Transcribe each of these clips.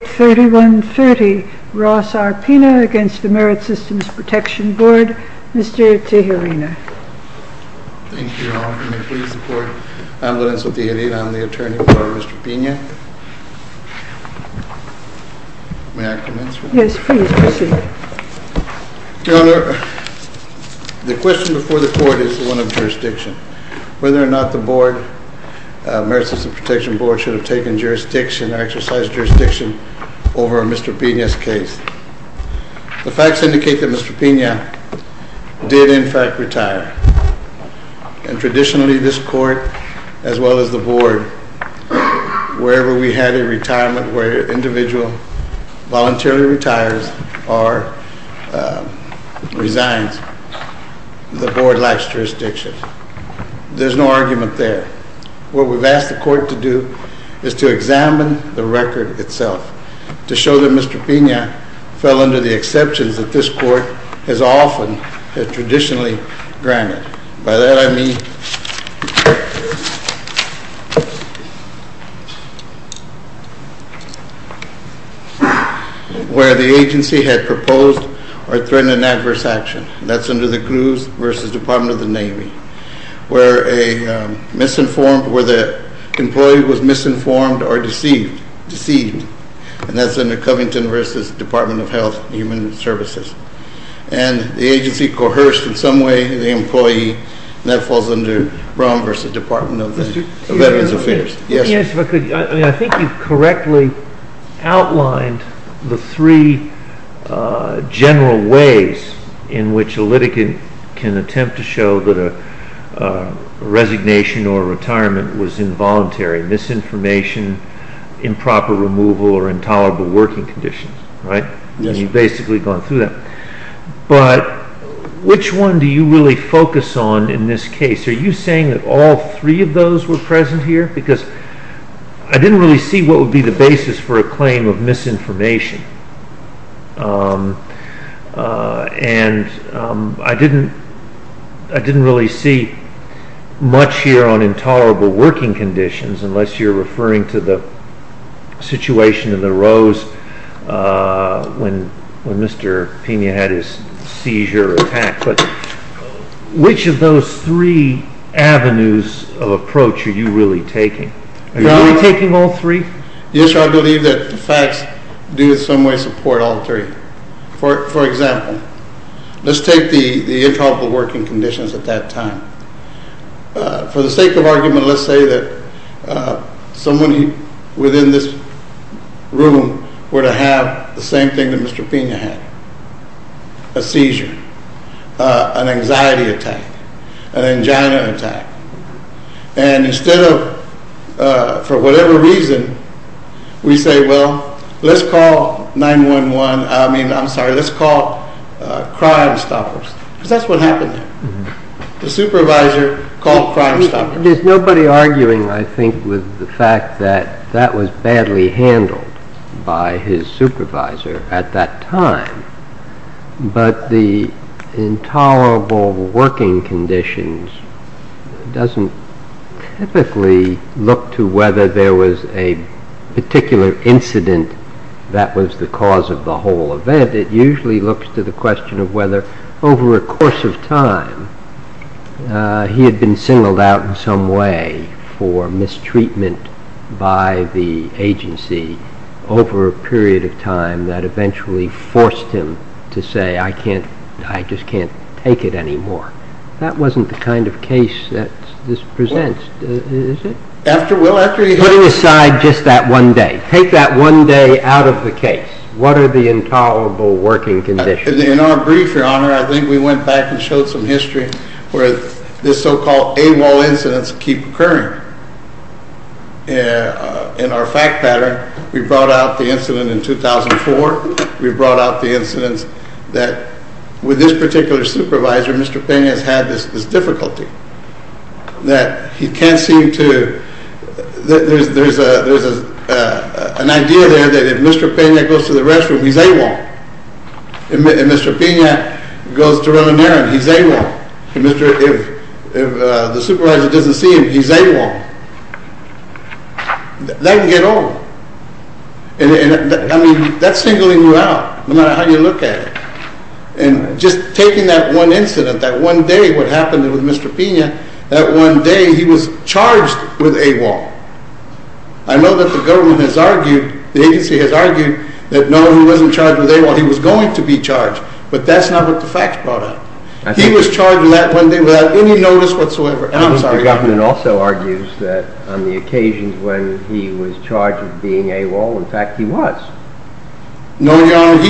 Page 3130 Ross R. Pina v. MSPB Mr. Tijerina Thank you, Your Honor. May it please the Court? I'm Lorenzo Tijerina. I'm the attorney for Mr. Pina. May I commence? Yes, please proceed. Your Honor, the question before the Court is the one of jurisdiction. Whether or not the board, the Merit System Protection Board, should have taken jurisdiction or exercised jurisdiction over Mr. Pina's case. The facts indicate that Mr. Pina did, in fact, retire. And traditionally, this Court, as well as the board, wherever we had a retirement where an individual voluntarily retires or resigns, the board lacks jurisdiction. There's no argument there. What we've asked the Court to do is to examine the record itself, to show that Mr. Pina fell under the exceptions that this Court has often and traditionally granted. By that, I mean where the agency had proposed or threatened an adverse action. That's under the crews v. Department of the Navy, where the employee was misinformed or deceived. And that's under Covington v. Department of Health and Human Services. And the agency coerced in some way the employee, and that falls under Brown v. Department of Veterans Affairs. I think you've correctly outlined the three general ways in which a litigant can attempt to show that a resignation or retirement was involuntary. Misinformation, improper removal or intolerable working conditions. You've basically gone through that. But which one do you really focus on in this case? Are you saying that all three of those were present here? Because I didn't really see what would be the basis for a claim of misinformation, and I didn't really see much here on intolerable working conditions, unless you're referring to the situation in the rows when Mr. Pina had his seizure attack. But which of those three avenues of approach are you really taking? Are you really taking all three? Yes, sir. I believe that the facts do in some way support all three. For example, let's take the intolerable working conditions at that time. For the sake of argument, let's say that somebody within this room were to have the same thing that Mr. Pina had, a seizure, an anxiety attack, an angina attack. And instead of, for whatever reason, we say, well, let's call 9-1-1, I mean, I'm sorry, let's call Crime Stoppers, because that's what happened. The supervisor called Crime Stoppers. There's nobody arguing, I think, with the fact that that was badly handled by his supervisor at that time. But the intolerable working conditions doesn't typically look to whether there was a particular incident that was the cause of the whole event. It usually looks to the question of whether, over a course of time, he had been singled out in some way for mistreatment by the agency over a period of time that eventually forced him to say, I just can't take it anymore. That wasn't the kind of case that this presents, is it? Putting aside just that one day, take that one day out of the case. What are the intolerable working conditions? In our brief, Your Honor, I think we went back and showed some history where this so-called AWOL incidents keep occurring. In our fact pattern, we brought out the incident in 2004. We brought out the incidents that, with this particular supervisor, Mr. Pena has had this difficulty that he can't seem to, there's an idea there that if Mr. Pena goes to run an errand, he's AWOL. If the supervisor doesn't see him, he's AWOL. That can get old. And I mean, that's singling you out, no matter how you look at it. And just taking that one incident, that one day, what happened with Mr. Pena, that one day he was charged with AWOL. I know that the government has argued, the agency has argued, that no, he wasn't charged with AWOL. He was going to be charged. But that's not what the facts brought out. He was charged with that one day without any notice whatsoever. And I'm sorry. The government also argues that on the occasions when he was charged with being AWOL, in fact, he was. No, Your Honor,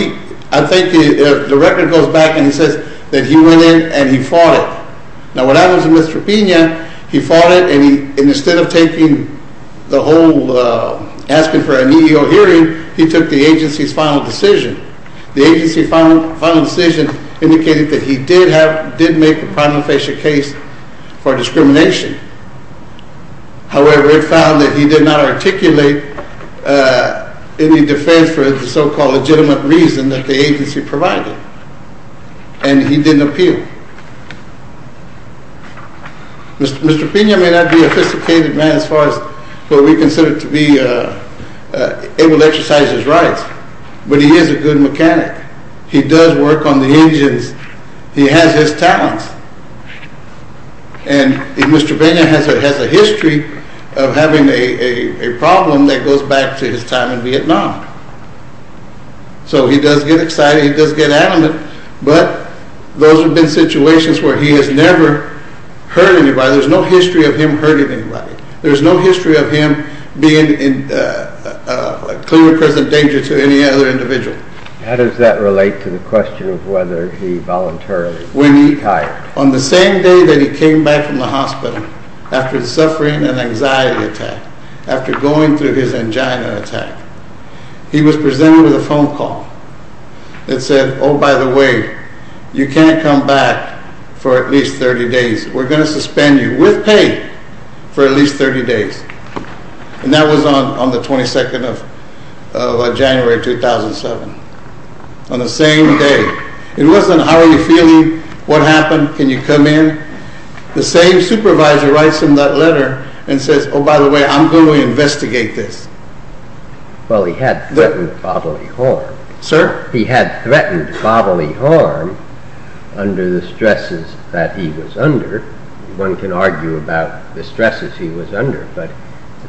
I think the record goes back and it says that he went in and he fought it. Now, what happens with Mr. Pena, he fought it and instead of taking the whole, asking for an EEO hearing, he took the agency's final decision. The agency's final decision indicated that he did have, did make a primal facial case for discrimination. However, it found that he did not articulate any defense for the so-called legitimate reason that the agency provided. And he didn't appeal. Mr. Pena may not be a sophisticated man as far as what we consider to be able to exercise his rights, but he is a good mechanic. He does work on the agents. He has his talents. And Mr. Pena has a history of having a problem that goes back to his time in Vietnam. So he does get excited, he does get adamant, but those have been situations where he has never hurt anybody. There's no history of him hurting anybody. There's no history of him being a clear present danger to any other individual. How does that relate to the question of whether he voluntarily retired? On the same day that he came back from the hospital, after the suffering and anxiety attack, after going through his angina attack, he was presented with a phone call that said, oh, by the way, you can't come back for at least 30 days. We're going to suspend you with pay for at least 30 days. And that was on the 22nd of January 2007. On the same day. It wasn't how are you feeling, what happened, can you come in? The same supervisor writes him that letter and says, oh, by the way, I'm going to investigate this. Well, he had threatened bodily harm. Sir? He had threatened bodily harm under the stresses that he was under. One can argue about the stresses he was under, but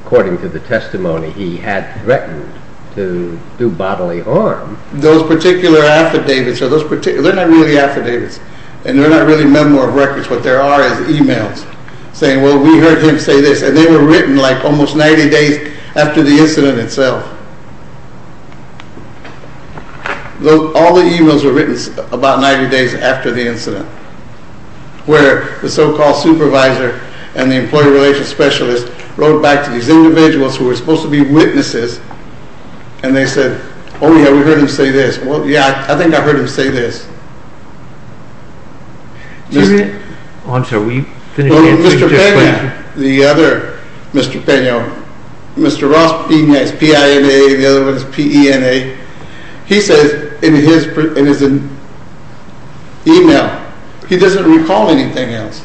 according to the testimony, he had threatened to do bodily harm. Those particular affidavits, they're not really affidavits, and they're not really memo of records, what they are is e-mails saying, well, we heard him say this, and they were written like almost 90 days after the incident. All the e-mails were written about 90 days after the incident, where the so-called supervisor and the employee relations specialist wrote back to these individuals who were supposed to be witnesses, and they said, oh, yeah, we heard him say this. Well, yeah, I think I heard him say this. I'm sorry, will you finish your question? Mr. Pena, the other one is P-E-N-A, he says in his e-mail, he doesn't recall anything else.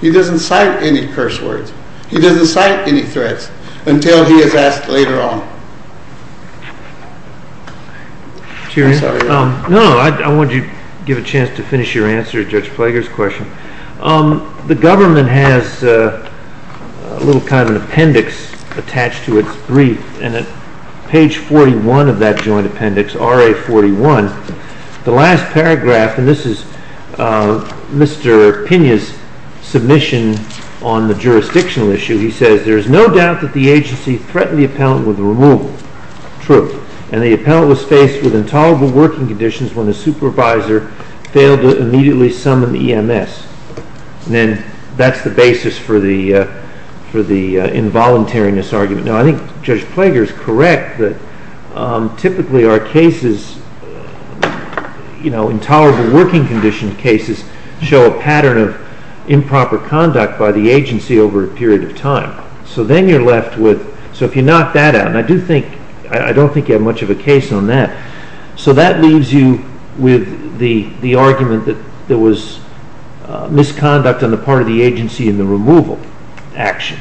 He doesn't cite any curse words. He doesn't cite any threats until he is asked later on. No, I wanted to give a chance to finish your answer to Judge Plager's question. The joint appendix, RA 41, the last paragraph, and this is Mr. Pena's submission on the jurisdictional issue, he says, there is no doubt that the agency threatened the appellant with removal. True. And the appellant was faced with intolerable working conditions when the supervisor failed to immediately summon EMS. And that's the basis for the case. Typically, our cases, you know, intolerable working condition cases show a pattern of improper conduct by the agency over a period of time. So then you're left with, so if you knock that out, and I do think, I don't think you have much of a case on that. So that leaves you with the argument that there was misconduct on the part of the agency in the removal action.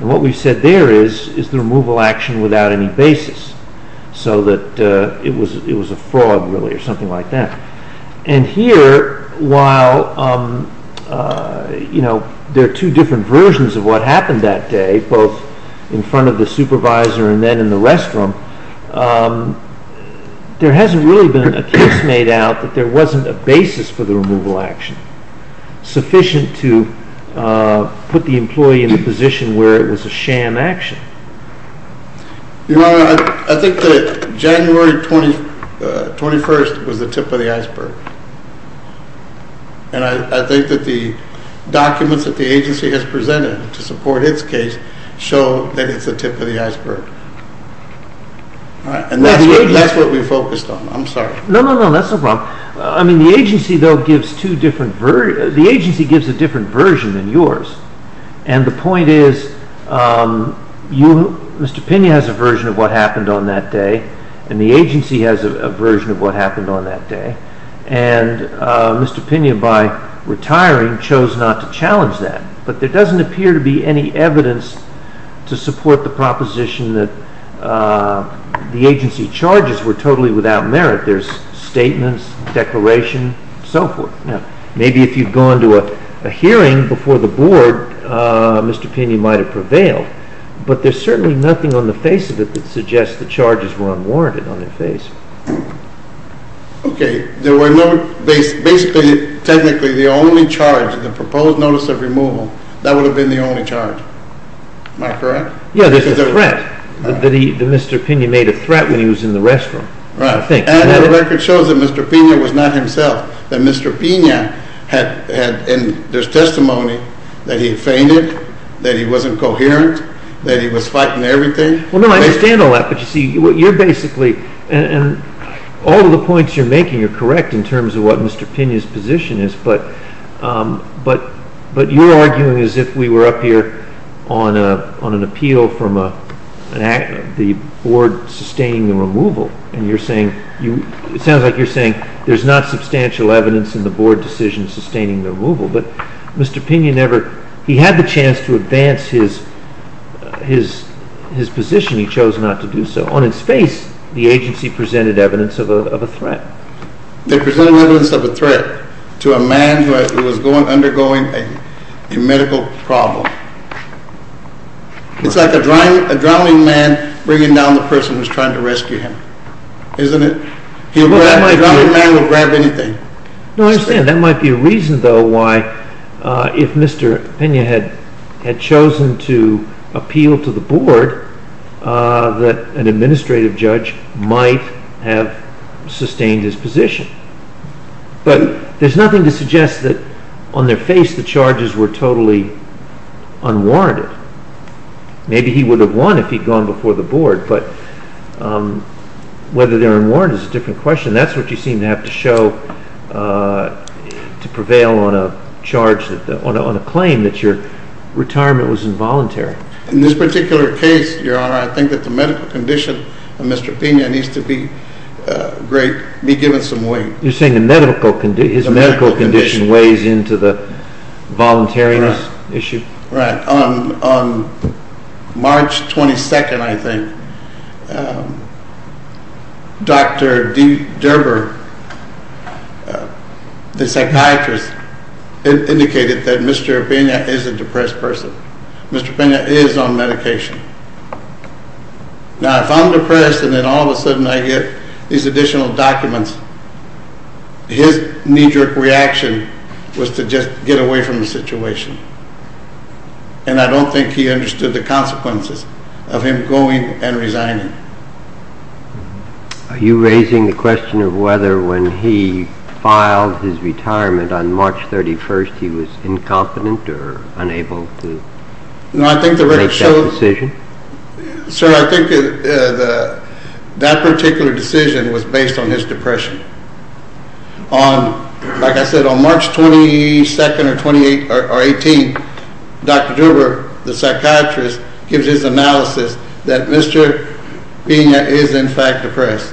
And what we said there is, is the removal action without any basis, so that it was a fraud, really, or something like that. And here, while, you know, there are two different versions of what happened that day, both in front of the supervisor and then in the restroom, there hasn't really been a case made out that there wasn't a basis for the removal action, sufficient to put the employee in a position where it was a sham action. Your Honor, I think that January 21st was the tip of the iceberg. And I think that the documents that the agency has presented to support its case show that it's the tip of the iceberg. And that's what we focused on. I'm sorry. No, no, no, that's no problem. I mean, the agency, though, gives two different, the agency gives a different version than yours. And the point is, you, Mr. Pena has a version of what happened on that day, and the agency has a version of what happened on that day. And Mr. Pena, by retiring, chose not to challenge that. But there doesn't appear to be any evidence to support the proposition that the agency charges were totally without merit. There's statements, declaration, so forth. Maybe if you'd gone to a hearing before the Board, Mr. Pena might have prevailed. But there's certainly nothing on the face of it that suggests the charges were unwarranted on their face. Okay. Basically, technically, the only charge, the proposed notice of removal, that would have been the only charge. Am I correct? Yeah, there's a threat, that Mr. Pena made a threat when he was in the restroom. Right. And the record shows that Mr. Pena was not himself, that Mr. Pena had, and there's testimony that he fainted, that he wasn't coherent, that he was fighting everything. Well, no, I understand all that, but you see, you're basically, and all of the points you're making are correct in terms of what Mr. Pena's arguing is if we were up here on an appeal from the Board sustaining the removal, and you're saying, it sounds like you're saying there's not substantial evidence in the Board decision sustaining the removal, but Mr. Pena never, he had the chance to advance his position, he chose not to do so. On its face, the agency presented evidence of a threat. They presented evidence of a threat to a man who was undergoing a medical problem. It's like a drowning man bringing down the person who's trying to rescue him. Isn't it? A drowning man will grab anything. No, I understand. That might be a reason, though, why if Mr. Pena had chosen to appeal to the But there's nothing to suggest that on their face the charges were totally unwarranted. Maybe he would have won if he'd gone before the Board, but whether they're unwarranted is a different question. That's what you seem to have to show to prevail on a charge, on a claim that your retirement was involuntary. In this particular case, Your Honor, I think that the medical condition of Mr. Pena needs to be given some weight. You're saying his medical condition weighs into the voluntariness issue? Right. On March 22nd, I think, Dr. D. Derber, the psychiatrist, indicated that Mr. Pena is a depressed person. Mr. Pena is on medication. Now, if I'm depressed and then all of a sudden I get these additional documents, his knee-jerk reaction was to just get away from the situation, and I don't think he understood the consequences of him going and resigning. Are you raising the question of whether when he filed his retirement on March 31st he was incompetent or unable to make that decision? Sir, I think that particular decision was based on his depression. Like I said, on March 22nd or 18th, Dr. Derber, the psychiatrist, gives his analysis that Mr. Pena is in fact depressed,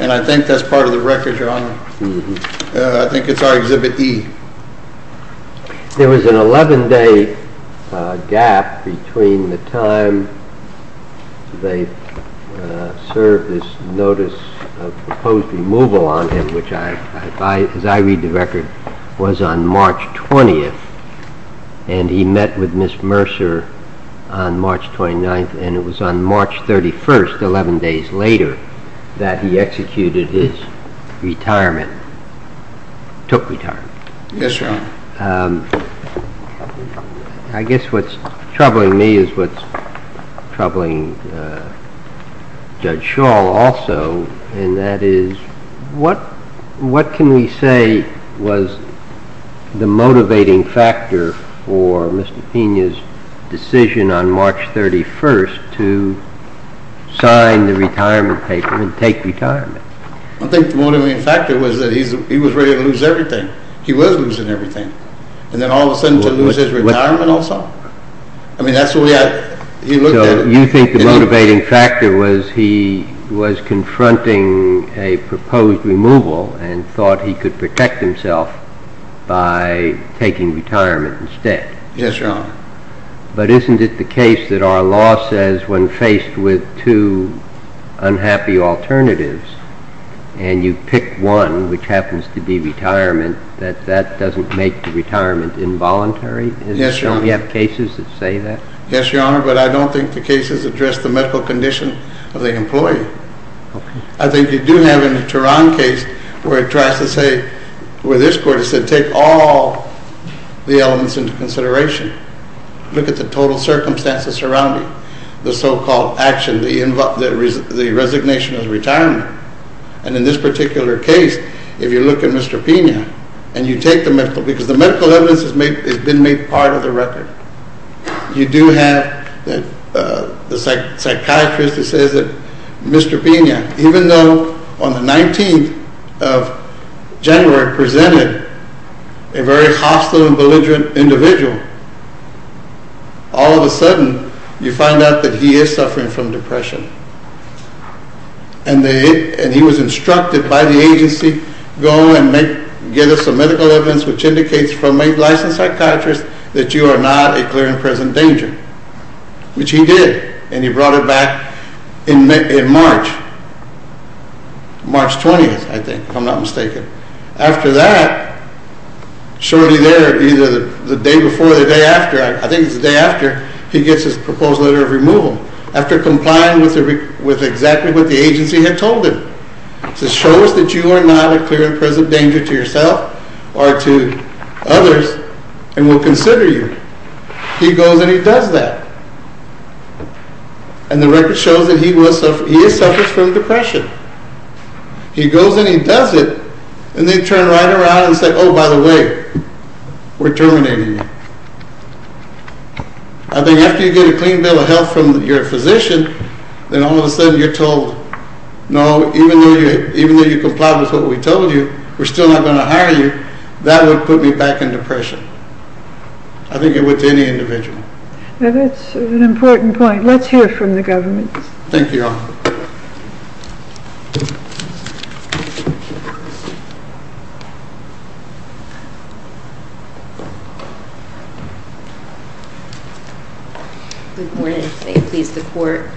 and I think that's part of the record, Your Honor. I think it's our Exhibit E. There was an 11-day gap between the time they served this notice of proposed removal on him, which as I read the record, was on March 20th, and he met with Ms. Mercer on March 29th, and it was on March 31st, 11 days later, that he executed his retirement, took retirement. Yes, Your Honor. I guess what's troubling me is what's troubling Judge Schall also, and that is, what can we say was the I think the motivating factor was that he was ready to lose everything. He was losing everything. And then all of a sudden to lose his retirement also? I mean, that's what we had… So you think the motivating factor was he was confronting a proposed removal and thought he could protect himself by taking retirement instead? Yes, Your Honor. But isn't it the case that our law says when faced with two unhappy alternatives, and you pick one, which happens to be retirement, that that doesn't make the retirement involuntary? Yes, Your Honor. Don't we have cases that say that? Yes, Your Honor, but I don't think the cases address the medical condition of the employee. I think you do have in the Turan case where it tries to say, where this court has said take all the elements into consideration. Look at the total circumstances surrounding the so-called action, the resignation of the retirement. And in this particular case, if you look at Mr. Pena, and you take the medical, because the medical evidence has been made part of the record. You do have the psychiatrist who says that Mr. Pena, even though on the 19th of January presented a very hostile and belligerent individual, all of a sudden you find out that he is suffering from depression. And he was instructed by the agency, go and get us some medical evidence which indicates from a licensed psychiatrist that you are not a clear and present danger, which he did, and he brought it back in March, March 20th, I think, if I'm not mistaken. After that, shortly there, either the day before or the day after, I think it's the day after, he gets his proposal letter of removal after complying with exactly what the agency had told him. It says show us that you are not a clear and present danger to yourself or to others, and we'll consider you. He goes and he does that, and the record shows that he is suffering from depression. He goes and he does it, and they turn right around and say, oh, by the way, we're terminating you. I think after you get a clean bill of health from your physician, then all of a sudden you're told, no, even though you complied with what we told you, we're still not going to hire you. That would put me back in depression. I think it would to any individual. Now that's an important point. Let's hear from the government. Thank you, Your Honor. Good morning. May it please the Court.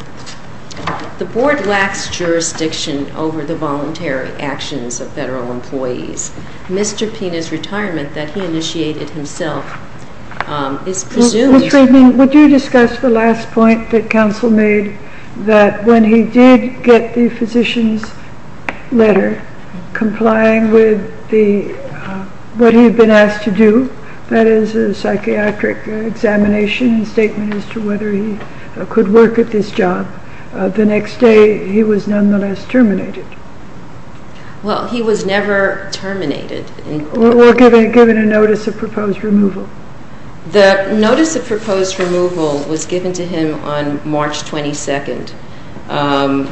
The Board lacks jurisdiction over the voluntary actions of federal employees. Mr. Pina's retirement that he initiated himself is presumed- Ms. Friedman, would you discuss the last point that counsel made, that when he did get the physician's letter complying with what he had been asked to do, that is a psychiatric examination and statement as to whether he could work at this job, the next day he was nonetheless terminated. Well, he was never terminated. Or given a notice of proposed removal. The notice of proposed removal was given to him on March 22nd. I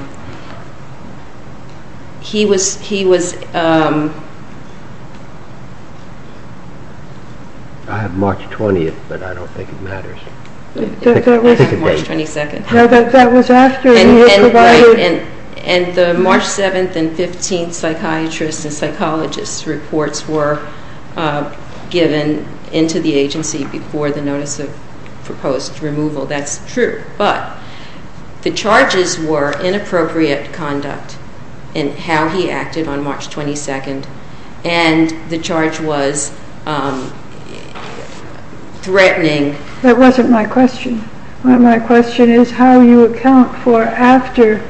have March 20th, but I don't think it matters. We have March 22nd. No, that was after he was provided- And the March 7th and 15th psychiatrist and psychologist reports were given into the agency before the notice of proposed removal. That's true. But the charges were inappropriate conduct in how he acted on March 22nd, and the charge was threatening- That wasn't my question. My question is how you account for after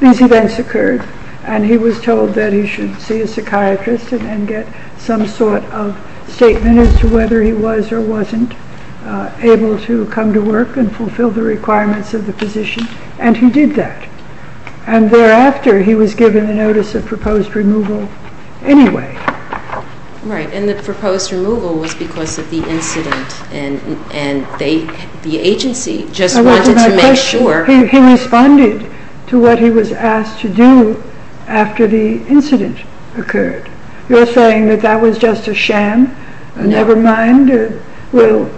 these events occurred, and he was told that he should see a psychiatrist and get some sort of statement as to whether he was or wasn't able to come to work and fulfill the requirements of the physician, and he did that. And thereafter, he was given the notice of proposed removal anyway. Right, and the proposed removal was because of the incident, and the agency just wanted to make sure- That wasn't my question. He responded to what he was asked to do after the incident occurred. You're saying that that was just a sham? No. Never mind, we'll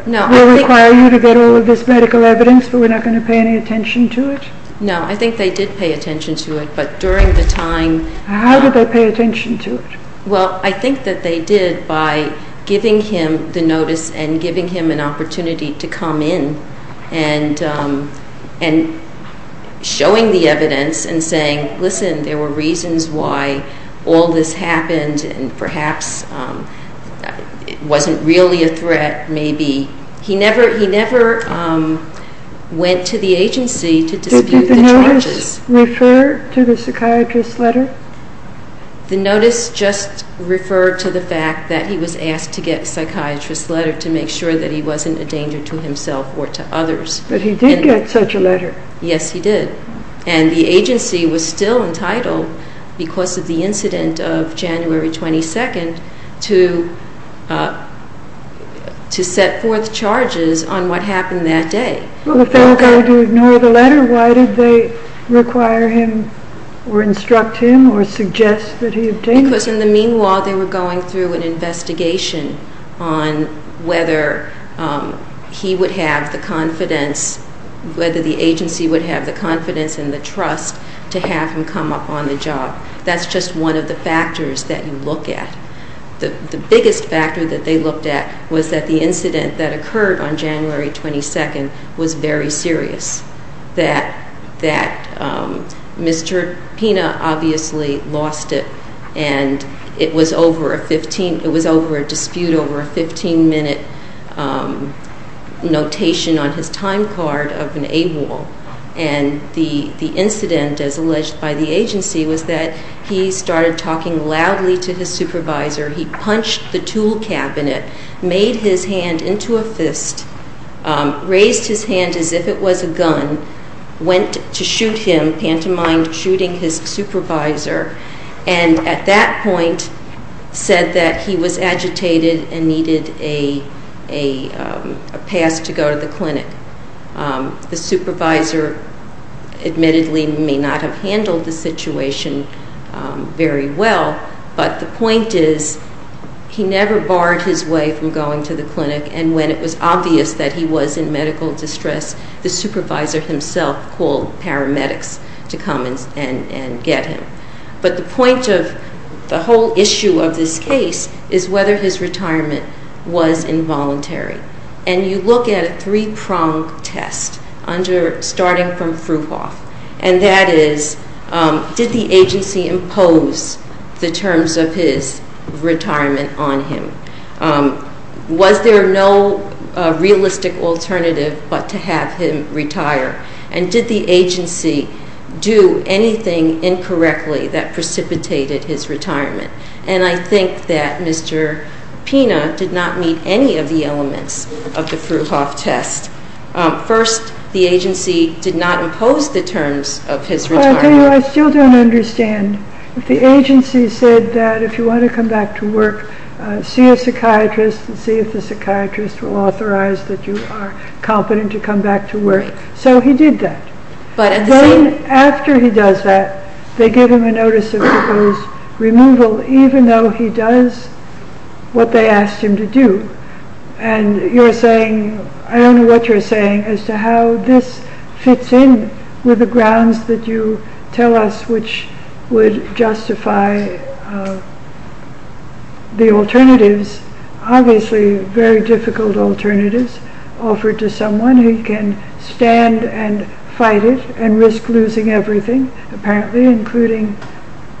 require you to get all of this medical evidence, but we're not going to pay any attention to it? No, I think they did pay attention to it, but during the time- How did they pay attention to it? Well, I think that they did by giving him the notice and giving him an opportunity to come in and showing the evidence and saying, listen, there were reasons why all this happened, and perhaps it wasn't really a threat, maybe. He never went to the agency to dispute the charges. Did the notice refer to the psychiatrist's letter? The notice just referred to the fact that he was asked to get a psychiatrist's letter to make sure that he wasn't a danger to himself or to others. But he did get such a letter. Yes, he did. And the agency was still entitled, because of the incident of January 22nd, to set forth charges on what happened that day. Well, if they were going to ignore the letter, why did they require him or instruct him or suggest that he obtain it? Because in the meanwhile, they were going through an investigation on whether he would have the confidence, whether the agency would have the confidence and the trust to have him come up on the job. That's just one of the factors that you look at. The biggest factor that they looked at was that the incident that occurred on January 22nd was very serious, that Mr. Pina obviously lost it, and it was over a dispute over a 15-minute notation on his time card of an AWOL. And the incident, as alleged by the agency, was that he started talking loudly to his supervisor, he punched the tool cabinet, made his hand into a fist, raised his hand as if it was a gun, went to shoot him, pantomime shooting his supervisor, and at that point said that he was agitated and needed a pass to go to the clinic. The supervisor admittedly may not have handled the situation very well, but the point is he never barred his way from going to the clinic, and when it was obvious that he was in medical distress, the supervisor himself called paramedics to come and get him. But the point of the whole issue of this case is whether his retirement was involuntary. And you look at a three-pronged test starting from Fruhauf, and that is did the agency impose the terms of his retirement on him? Was there no realistic alternative but to have him retire? And did the agency do anything incorrectly that precipitated his retirement? And I think that Mr. Pina did not meet any of the elements of the Fruhauf test. First, the agency did not impose the terms of his retirement. I still don't understand. The agency said that if you want to come back to work, see a psychiatrist and see if the psychiatrist will authorize that you are competent to come back to work. So he did that. Then after he does that, they give him a notice of proposed removal, even though he does what they asked him to do. And you're saying, I don't know what you're saying, as to how this fits in with the grounds that you tell us, which would justify the alternatives, obviously very difficult alternatives, offered to someone who can stand and fight it and risk losing everything, apparently, including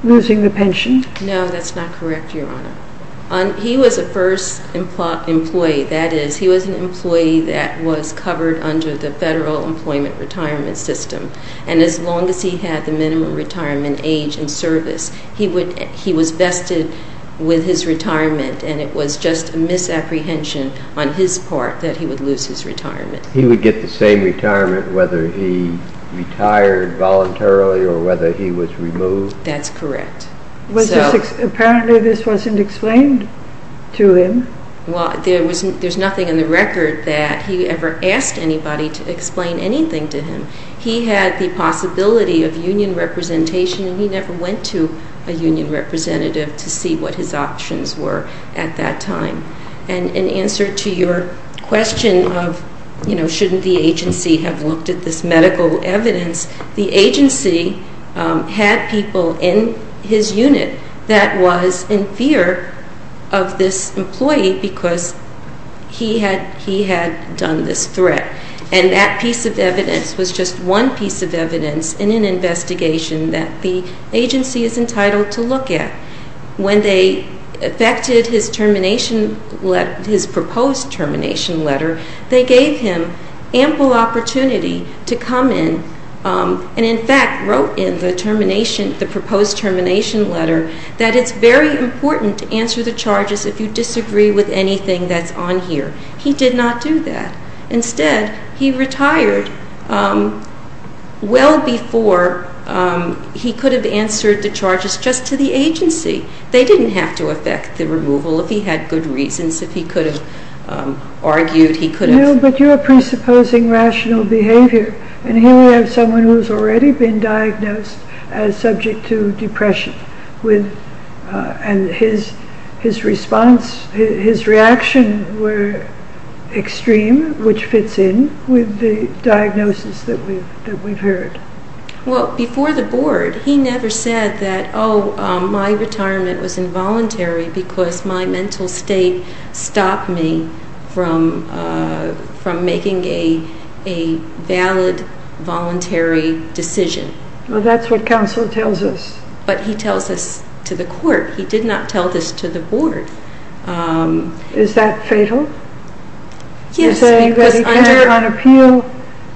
losing the pension. No, that's not correct, Your Honor. He was a first employee, that is, he was an employee that was covered under the Federal Employment Retirement System. And as long as he had the minimum retirement age in service, he was vested with his retirement, and it was just a misapprehension on his part that he would lose his retirement. He would get the same retirement whether he retired voluntarily or whether he was removed? That's correct. Apparently this wasn't explained to him? Well, there's nothing in the record that he ever asked anybody to explain anything to him. He had the possibility of union representation, and he never went to a union representative to see what his options were at that time. And in answer to your question of, you know, shouldn't the agency have looked at this medical evidence, the agency had people in his unit that was in fear of this employee because he had done this threat. And that piece of evidence was just one piece of evidence in an investigation that the agency is entitled to look at. When they affected his termination letter, his proposed termination letter, they gave him ample opportunity to come in and, in fact, wrote in the proposed termination letter that it's very important to answer the charges if you disagree with anything that's on here. He did not do that. Instead, he retired well before he could have answered the charges just to the agency. They didn't have to affect the removal if he had good reasons, if he could have argued, he could have... No, but you're presupposing rational behavior, and here we have someone who's already been diagnosed as subject to depression, and his response, his reaction were extreme, which fits in with the diagnosis that we've heard. Well, before the board, he never said that, Oh, my retirement was involuntary because my mental state stopped me from making a valid, voluntary decision. Well, that's what counsel tells us. But he tells this to the court. He did not tell this to the board. Is that fatal? Yes. To say that he can't, on appeal,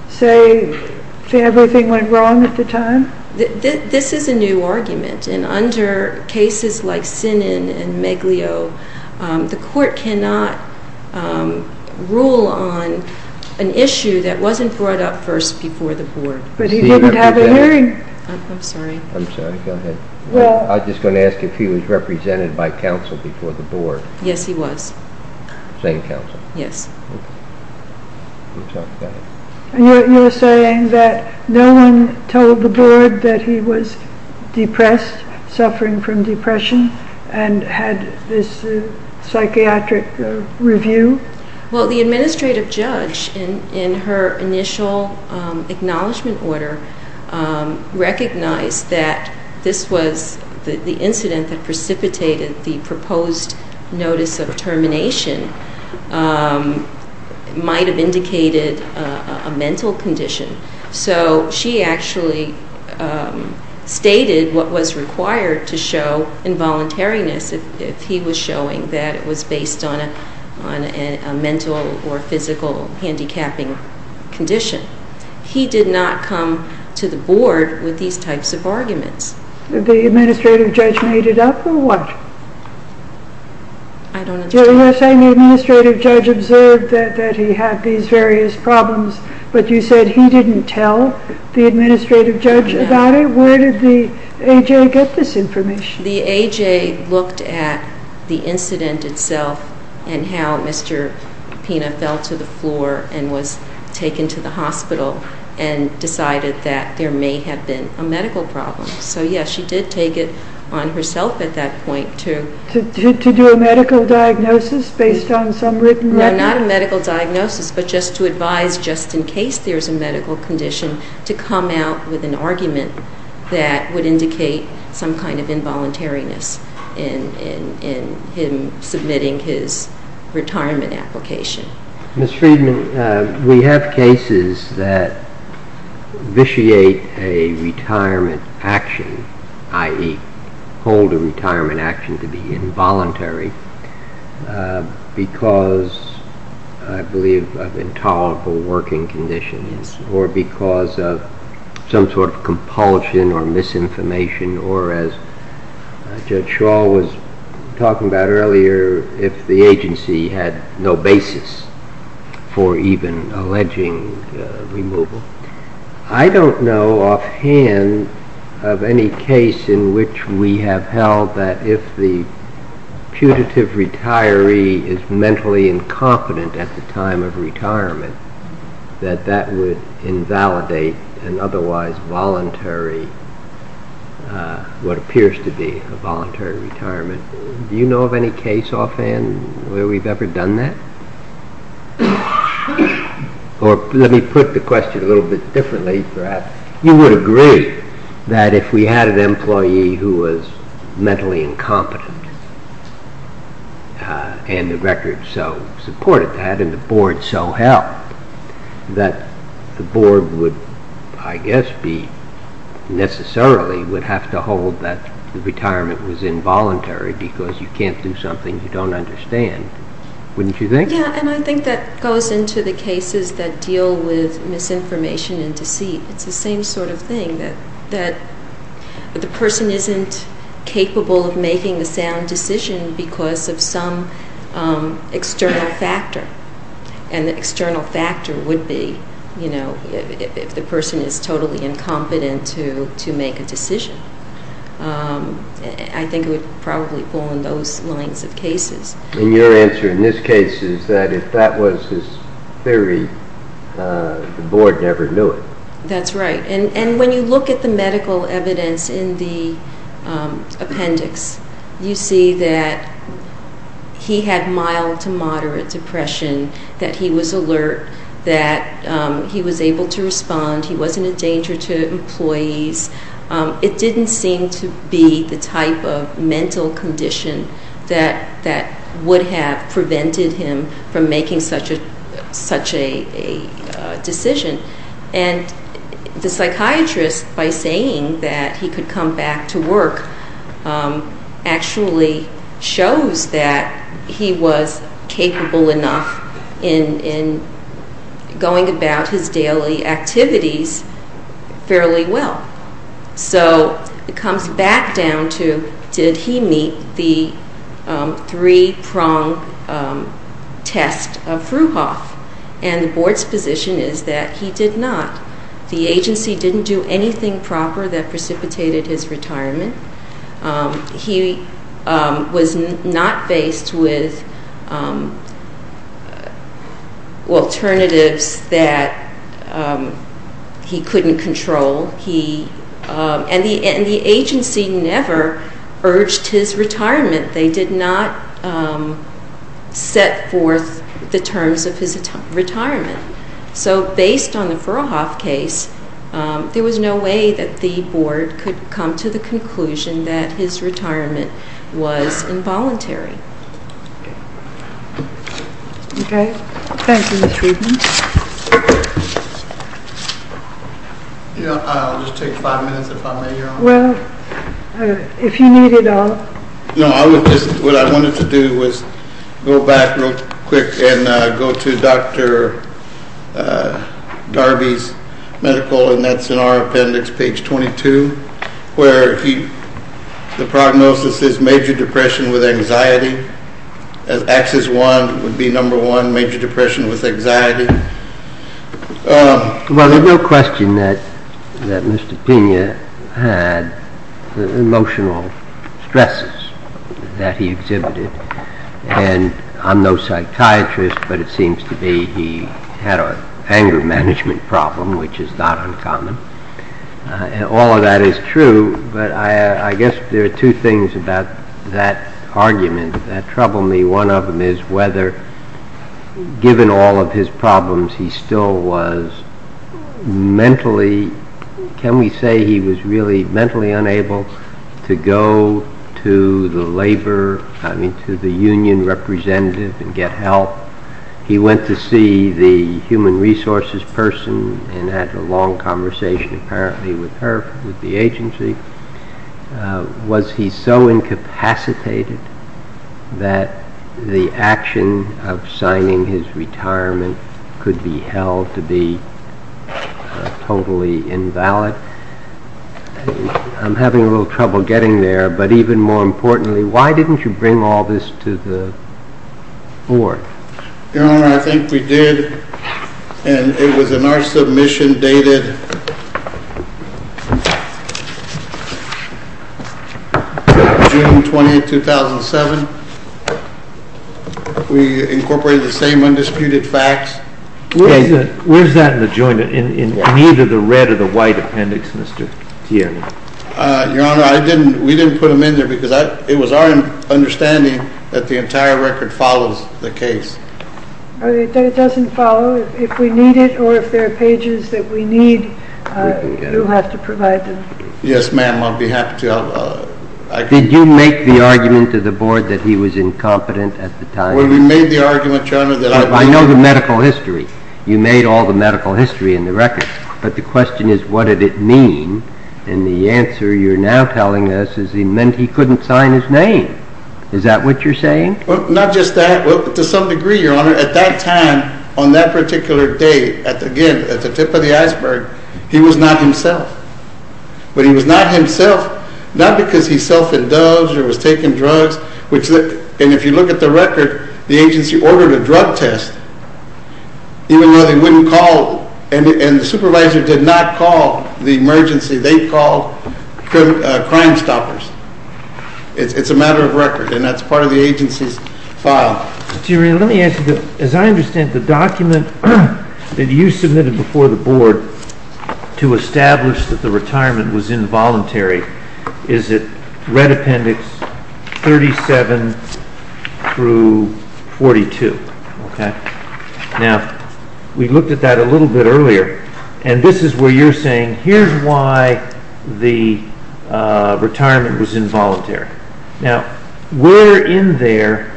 say everything went wrong at the time? This is a new argument, and under cases like Sinan and Meglio, the court cannot rule on an issue that wasn't brought up first before the board. But he wouldn't have a hearing. I'm sorry. I'm sorry. Go ahead. I was just going to ask if he was represented by counsel before the board. Yes, he was. Same counsel? Yes. Okay. We'll talk about it. You're saying that no one told the board that he was depressed, suffering from depression, and had this psychiatric review? Well, the administrative judge, in her initial acknowledgment order, recognized that this was the incident that precipitated the proposed notice of termination. It might have indicated a mental condition. So she actually stated what was required to show involuntariness, if he was showing that it was based on a mental or physical handicapping condition. He did not come to the board with these types of arguments. The administrative judge made it up, or what? I don't understand. You're saying the administrative judge observed that he had these various problems, but you said he didn't tell the administrative judge about it? No. Where did the A.J. get this information? The A.J. looked at the incident itself and how Mr. Pina fell to the floor and was taken to the hospital and decided that there may have been a medical problem. So, yes, she did take it on herself at that point to do a medical diagnosis. Based on some written record? No, not a medical diagnosis, but just to advise just in case there's a medical condition to come out with an argument that would indicate some kind of involuntariness in him submitting his retirement application. Ms. Friedman, we have cases that vitiate a retirement action, i.e., hold a retirement action to be involuntary because, I believe, of intolerable working conditions or because of some sort of compulsion or misinformation or, as Judge Shaw was talking about earlier, if the agency had no basis for even alleging removal. I don't know offhand of any case in which we have held that if the putative retiree is mentally incompetent at the time of retirement that that would invalidate an otherwise voluntary, what appears to be a voluntary retirement. Do you know of any case offhand where we've ever done that? Or let me put the question a little bit differently, perhaps. You would agree that if we had an employee who was mentally incompetent and the record so supported that and the board so helped that the board would, I guess, necessarily have to hold that the retirement was involuntary because you can't do something you don't understand, wouldn't you think? Yes, and I think that goes into the cases that deal with misinformation and deceit. It's the same sort of thing that the person isn't capable of making a sound decision because of some external factor, and the external factor would be if the person is totally incompetent to make a decision. I think it would probably fall in those lines of cases. And your answer in this case is that if that was his theory, the board never knew it. That's right, and when you look at the medical evidence in the appendix, you see that he had mild to moderate depression, that he was alert, that he was able to respond, it didn't seem to be the type of mental condition that would have prevented him from making such a decision. And the psychiatrist, by saying that he could come back to work, actually shows that he was capable enough in going about his daily activities fairly well. So it comes back down to, did he meet the three-prong test of Fruhoff? And the board's position is that he did not. The agency didn't do anything proper that precipitated his retirement. He was not faced with alternatives that he couldn't control. And the agency never urged his retirement. They did not set forth the terms of his retirement. So based on the Fruhoff case, there was no way that the board could come to the conclusion that his retirement was involuntary. Okay, thank you, Ms. Friedman. I'll just take five minutes if I may, Your Honor. Well, if you need it all. No, what I wanted to do was go back real quick and go to Dr. Darby's medical, and that's in our appendix, page 22, where the prognosis is major depression with anxiety. Axis one would be number one, major depression with anxiety. Well, there's no question that Mr. Pena had emotional stresses that he exhibited. And I'm no psychiatrist, but it seems to be he had an anger management problem, which is not uncommon. All of that is true, but I guess there are two things about that argument that trouble me. One of them is whether, given all of his problems, he still was mentally, can we say he was really mentally unable to go to the labor, I mean to the union representative and get help. He went to see the human resources person and had a long conversation, apparently, with her, with the agency. Was he so incapacitated that the action of signing his retirement could be held to be totally invalid? I'm having a little trouble getting there, but even more importantly, why didn't you bring all this to the board? Your Honor, I think we did, and it was in our submission dated June 28, 2007. We incorporated the same undisputed facts. Where's that in the joint, in either the red or the white appendix, Mr. Tierney? Your Honor, we didn't put them in there because it was our understanding that the entire record follows the case. It doesn't follow. If we need it or if there are pages that we need, you'll have to provide them. Yes, ma'am, I'll be happy to. Did you make the argument to the board that he was incompetent at the time? Well, we made the argument, Your Honor, that I was. I know the medical history. You made all the medical history in the record, but the question is what did it mean, and the answer you're now telling us is he meant he couldn't sign his name. Is that what you're saying? Not just that. To some degree, Your Honor, at that time, on that particular day, again, at the tip of the iceberg, he was not himself, but he was not himself not because he self-indulged or was taking drugs, and if you look at the record, the agency ordered a drug test even though they wouldn't call, and the supervisor did not call the emergency. They called Crime Stoppers. It's a matter of record, and that's part of the agency's file. Let me ask you this. As I understand it, the document that you submitted before the board to establish that the retirement was involuntary, is it red appendix 37 through 42? Now, we looked at that a little bit earlier, and this is where you're saying here's why the retirement was involuntary. Now, where in there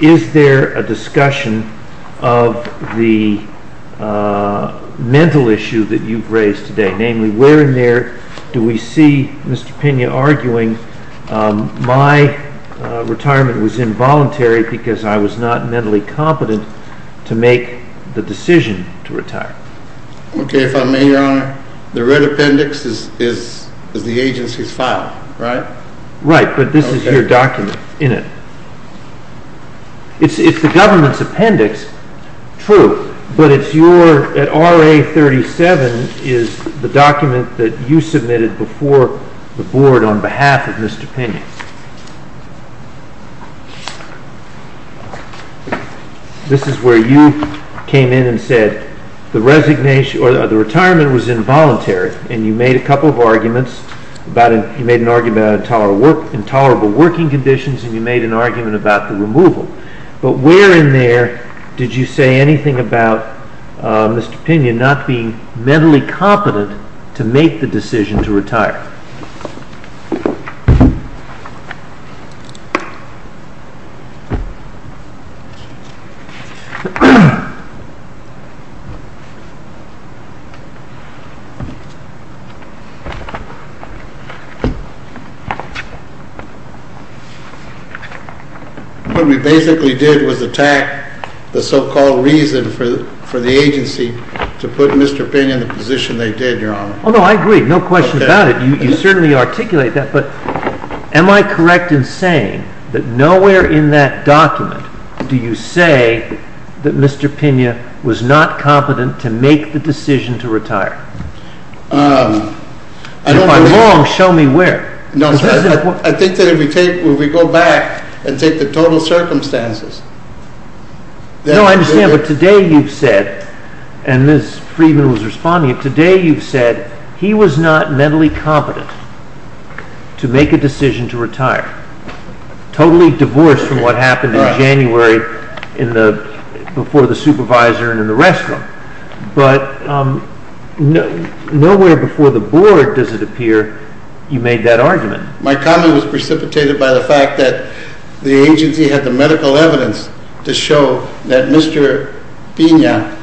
is there a discussion of the mental issue that you've raised today? Namely, where in there do we see Mr. Pena arguing my retirement was involuntary because I was not mentally competent to make the decision to retire? Okay, if I may, Your Honor, the red appendix is the agency's file, right? Right, but this is your document in it. It's the government's appendix, true, but at RA 37 is the document that you submitted before the board on behalf of Mr. Pena. This is where you came in and said the retirement was involuntary, and you made a couple of arguments. You made an argument about intolerable working conditions, and you made an argument about the removal, but where in there did you say anything about Mr. Pena not being mentally competent to make the decision to retire? What we basically did was attack the so-called reason for the agency to put Mr. Pena in the position they did, Your Honor. Oh, no, I agree. No question about it. You certainly articulate that, but am I correct in saying that nowhere in that document do you say that Mr. Pena was not competent to make the decision to retire? If I'm wrong, show me where. No, I think that if we go back and take the total circumstances. No, I understand, but today you've said, and Ms. Friedman was responding, today you've said he was not mentally competent to make a decision to retire, totally divorced from what happened in January before the supervisor and the rest of them, but nowhere before the board does it appear you made that argument. My comment was precipitated by the fact that the agency had the medical evidence to show that Mr. Pena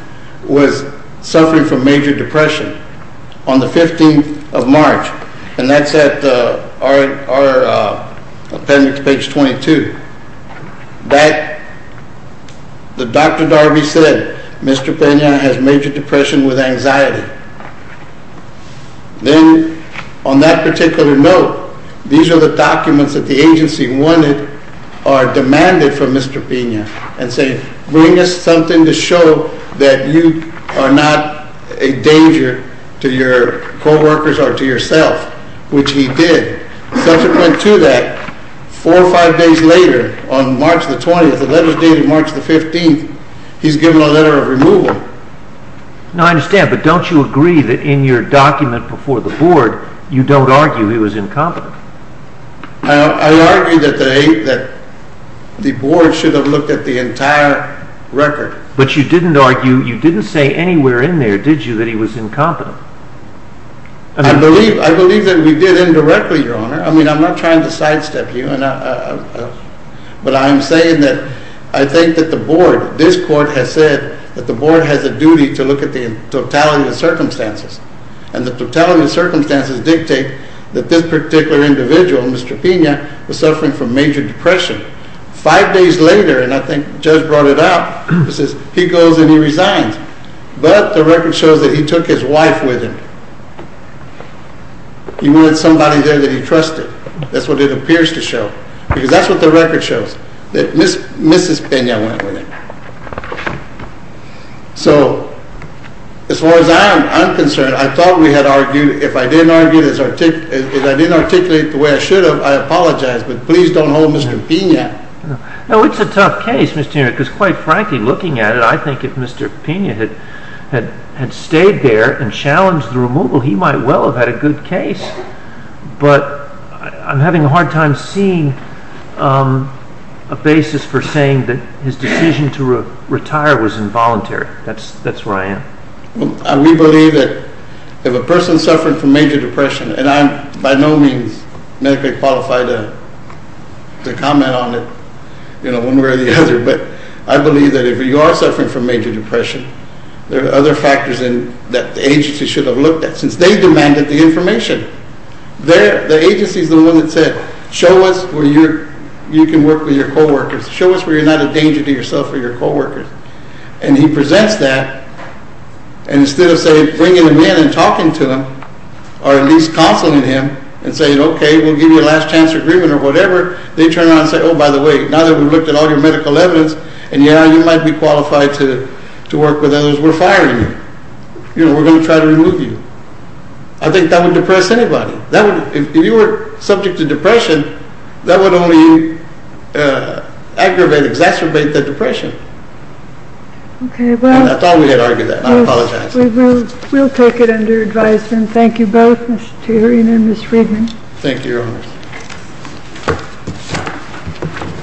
was suffering from major depression on the 15th of March, and that's at our appendix, page 22. Dr. Darby said Mr. Pena has major depression with anxiety. Then on that particular note, these are the documents that the agency wanted or demanded from Mr. Pena, and say, bring us something to show that you are not a danger to your co-workers or to yourself, which he did. Subsequent to that, four or five days later, on March the 20th, the letters dated March the 15th, he's given a letter of removal. No, I understand, but don't you agree that in your document before the board you don't argue he was incompetent? I argue that the board should have looked at the entire record. But you didn't argue, you didn't say anywhere in there, did you, that he was incompetent? I believe that we did indirectly, Your Honor. I mean, I'm not trying to sidestep you, but I'm saying that I think that the board, this court has said that the board has a duty to look at the totality of circumstances, and the totality of circumstances dictate that this particular individual, Mr. Pena, was suffering from major depression. Five days later, and I think Judge brought it up, he goes and he resigns. But the record shows that he took his wife with him. He wanted somebody there that he trusted. That's what it appears to show, because that's what the record shows, that Mrs. Pena went with him. So, as far as I'm concerned, I thought we had argued. If I didn't articulate the way I should have, I apologize, but please don't hold Mr. Pena. No, it's a tough case, Mr. Newman, because quite frankly, looking at it, I think if Mr. Pena had stayed there and challenged the removal, he might well have had a good case. But I'm having a hard time seeing a basis for saying that his decision to retire was involuntary. That's where I am. We believe that if a person suffering from major depression, and I'm by no means medically qualified to comment on it, you know, one way or the other, but I believe that if you are suffering from major depression, there are other factors that the agency should have looked at, since they demanded the information. The agency is the one that said, show us where you can work with your co-workers. Show us where you're not a danger to yourself or your co-workers. And he presents that, and instead of bringing him in and talking to him, or at least counseling him, and saying, okay, we'll give you a last chance agreement or whatever, they turn around and say, oh, by the way, now that we've looked at all your medical evidence, and yeah, you might be qualified to work with us, we're firing you. You know, we're going to try to remove you. I think that would depress anybody. If you were subject to depression, that would only aggravate, exacerbate the depression. I thought we had argued that. I apologize. We'll take it under advisement. Thank you, Your Honors. Thank you.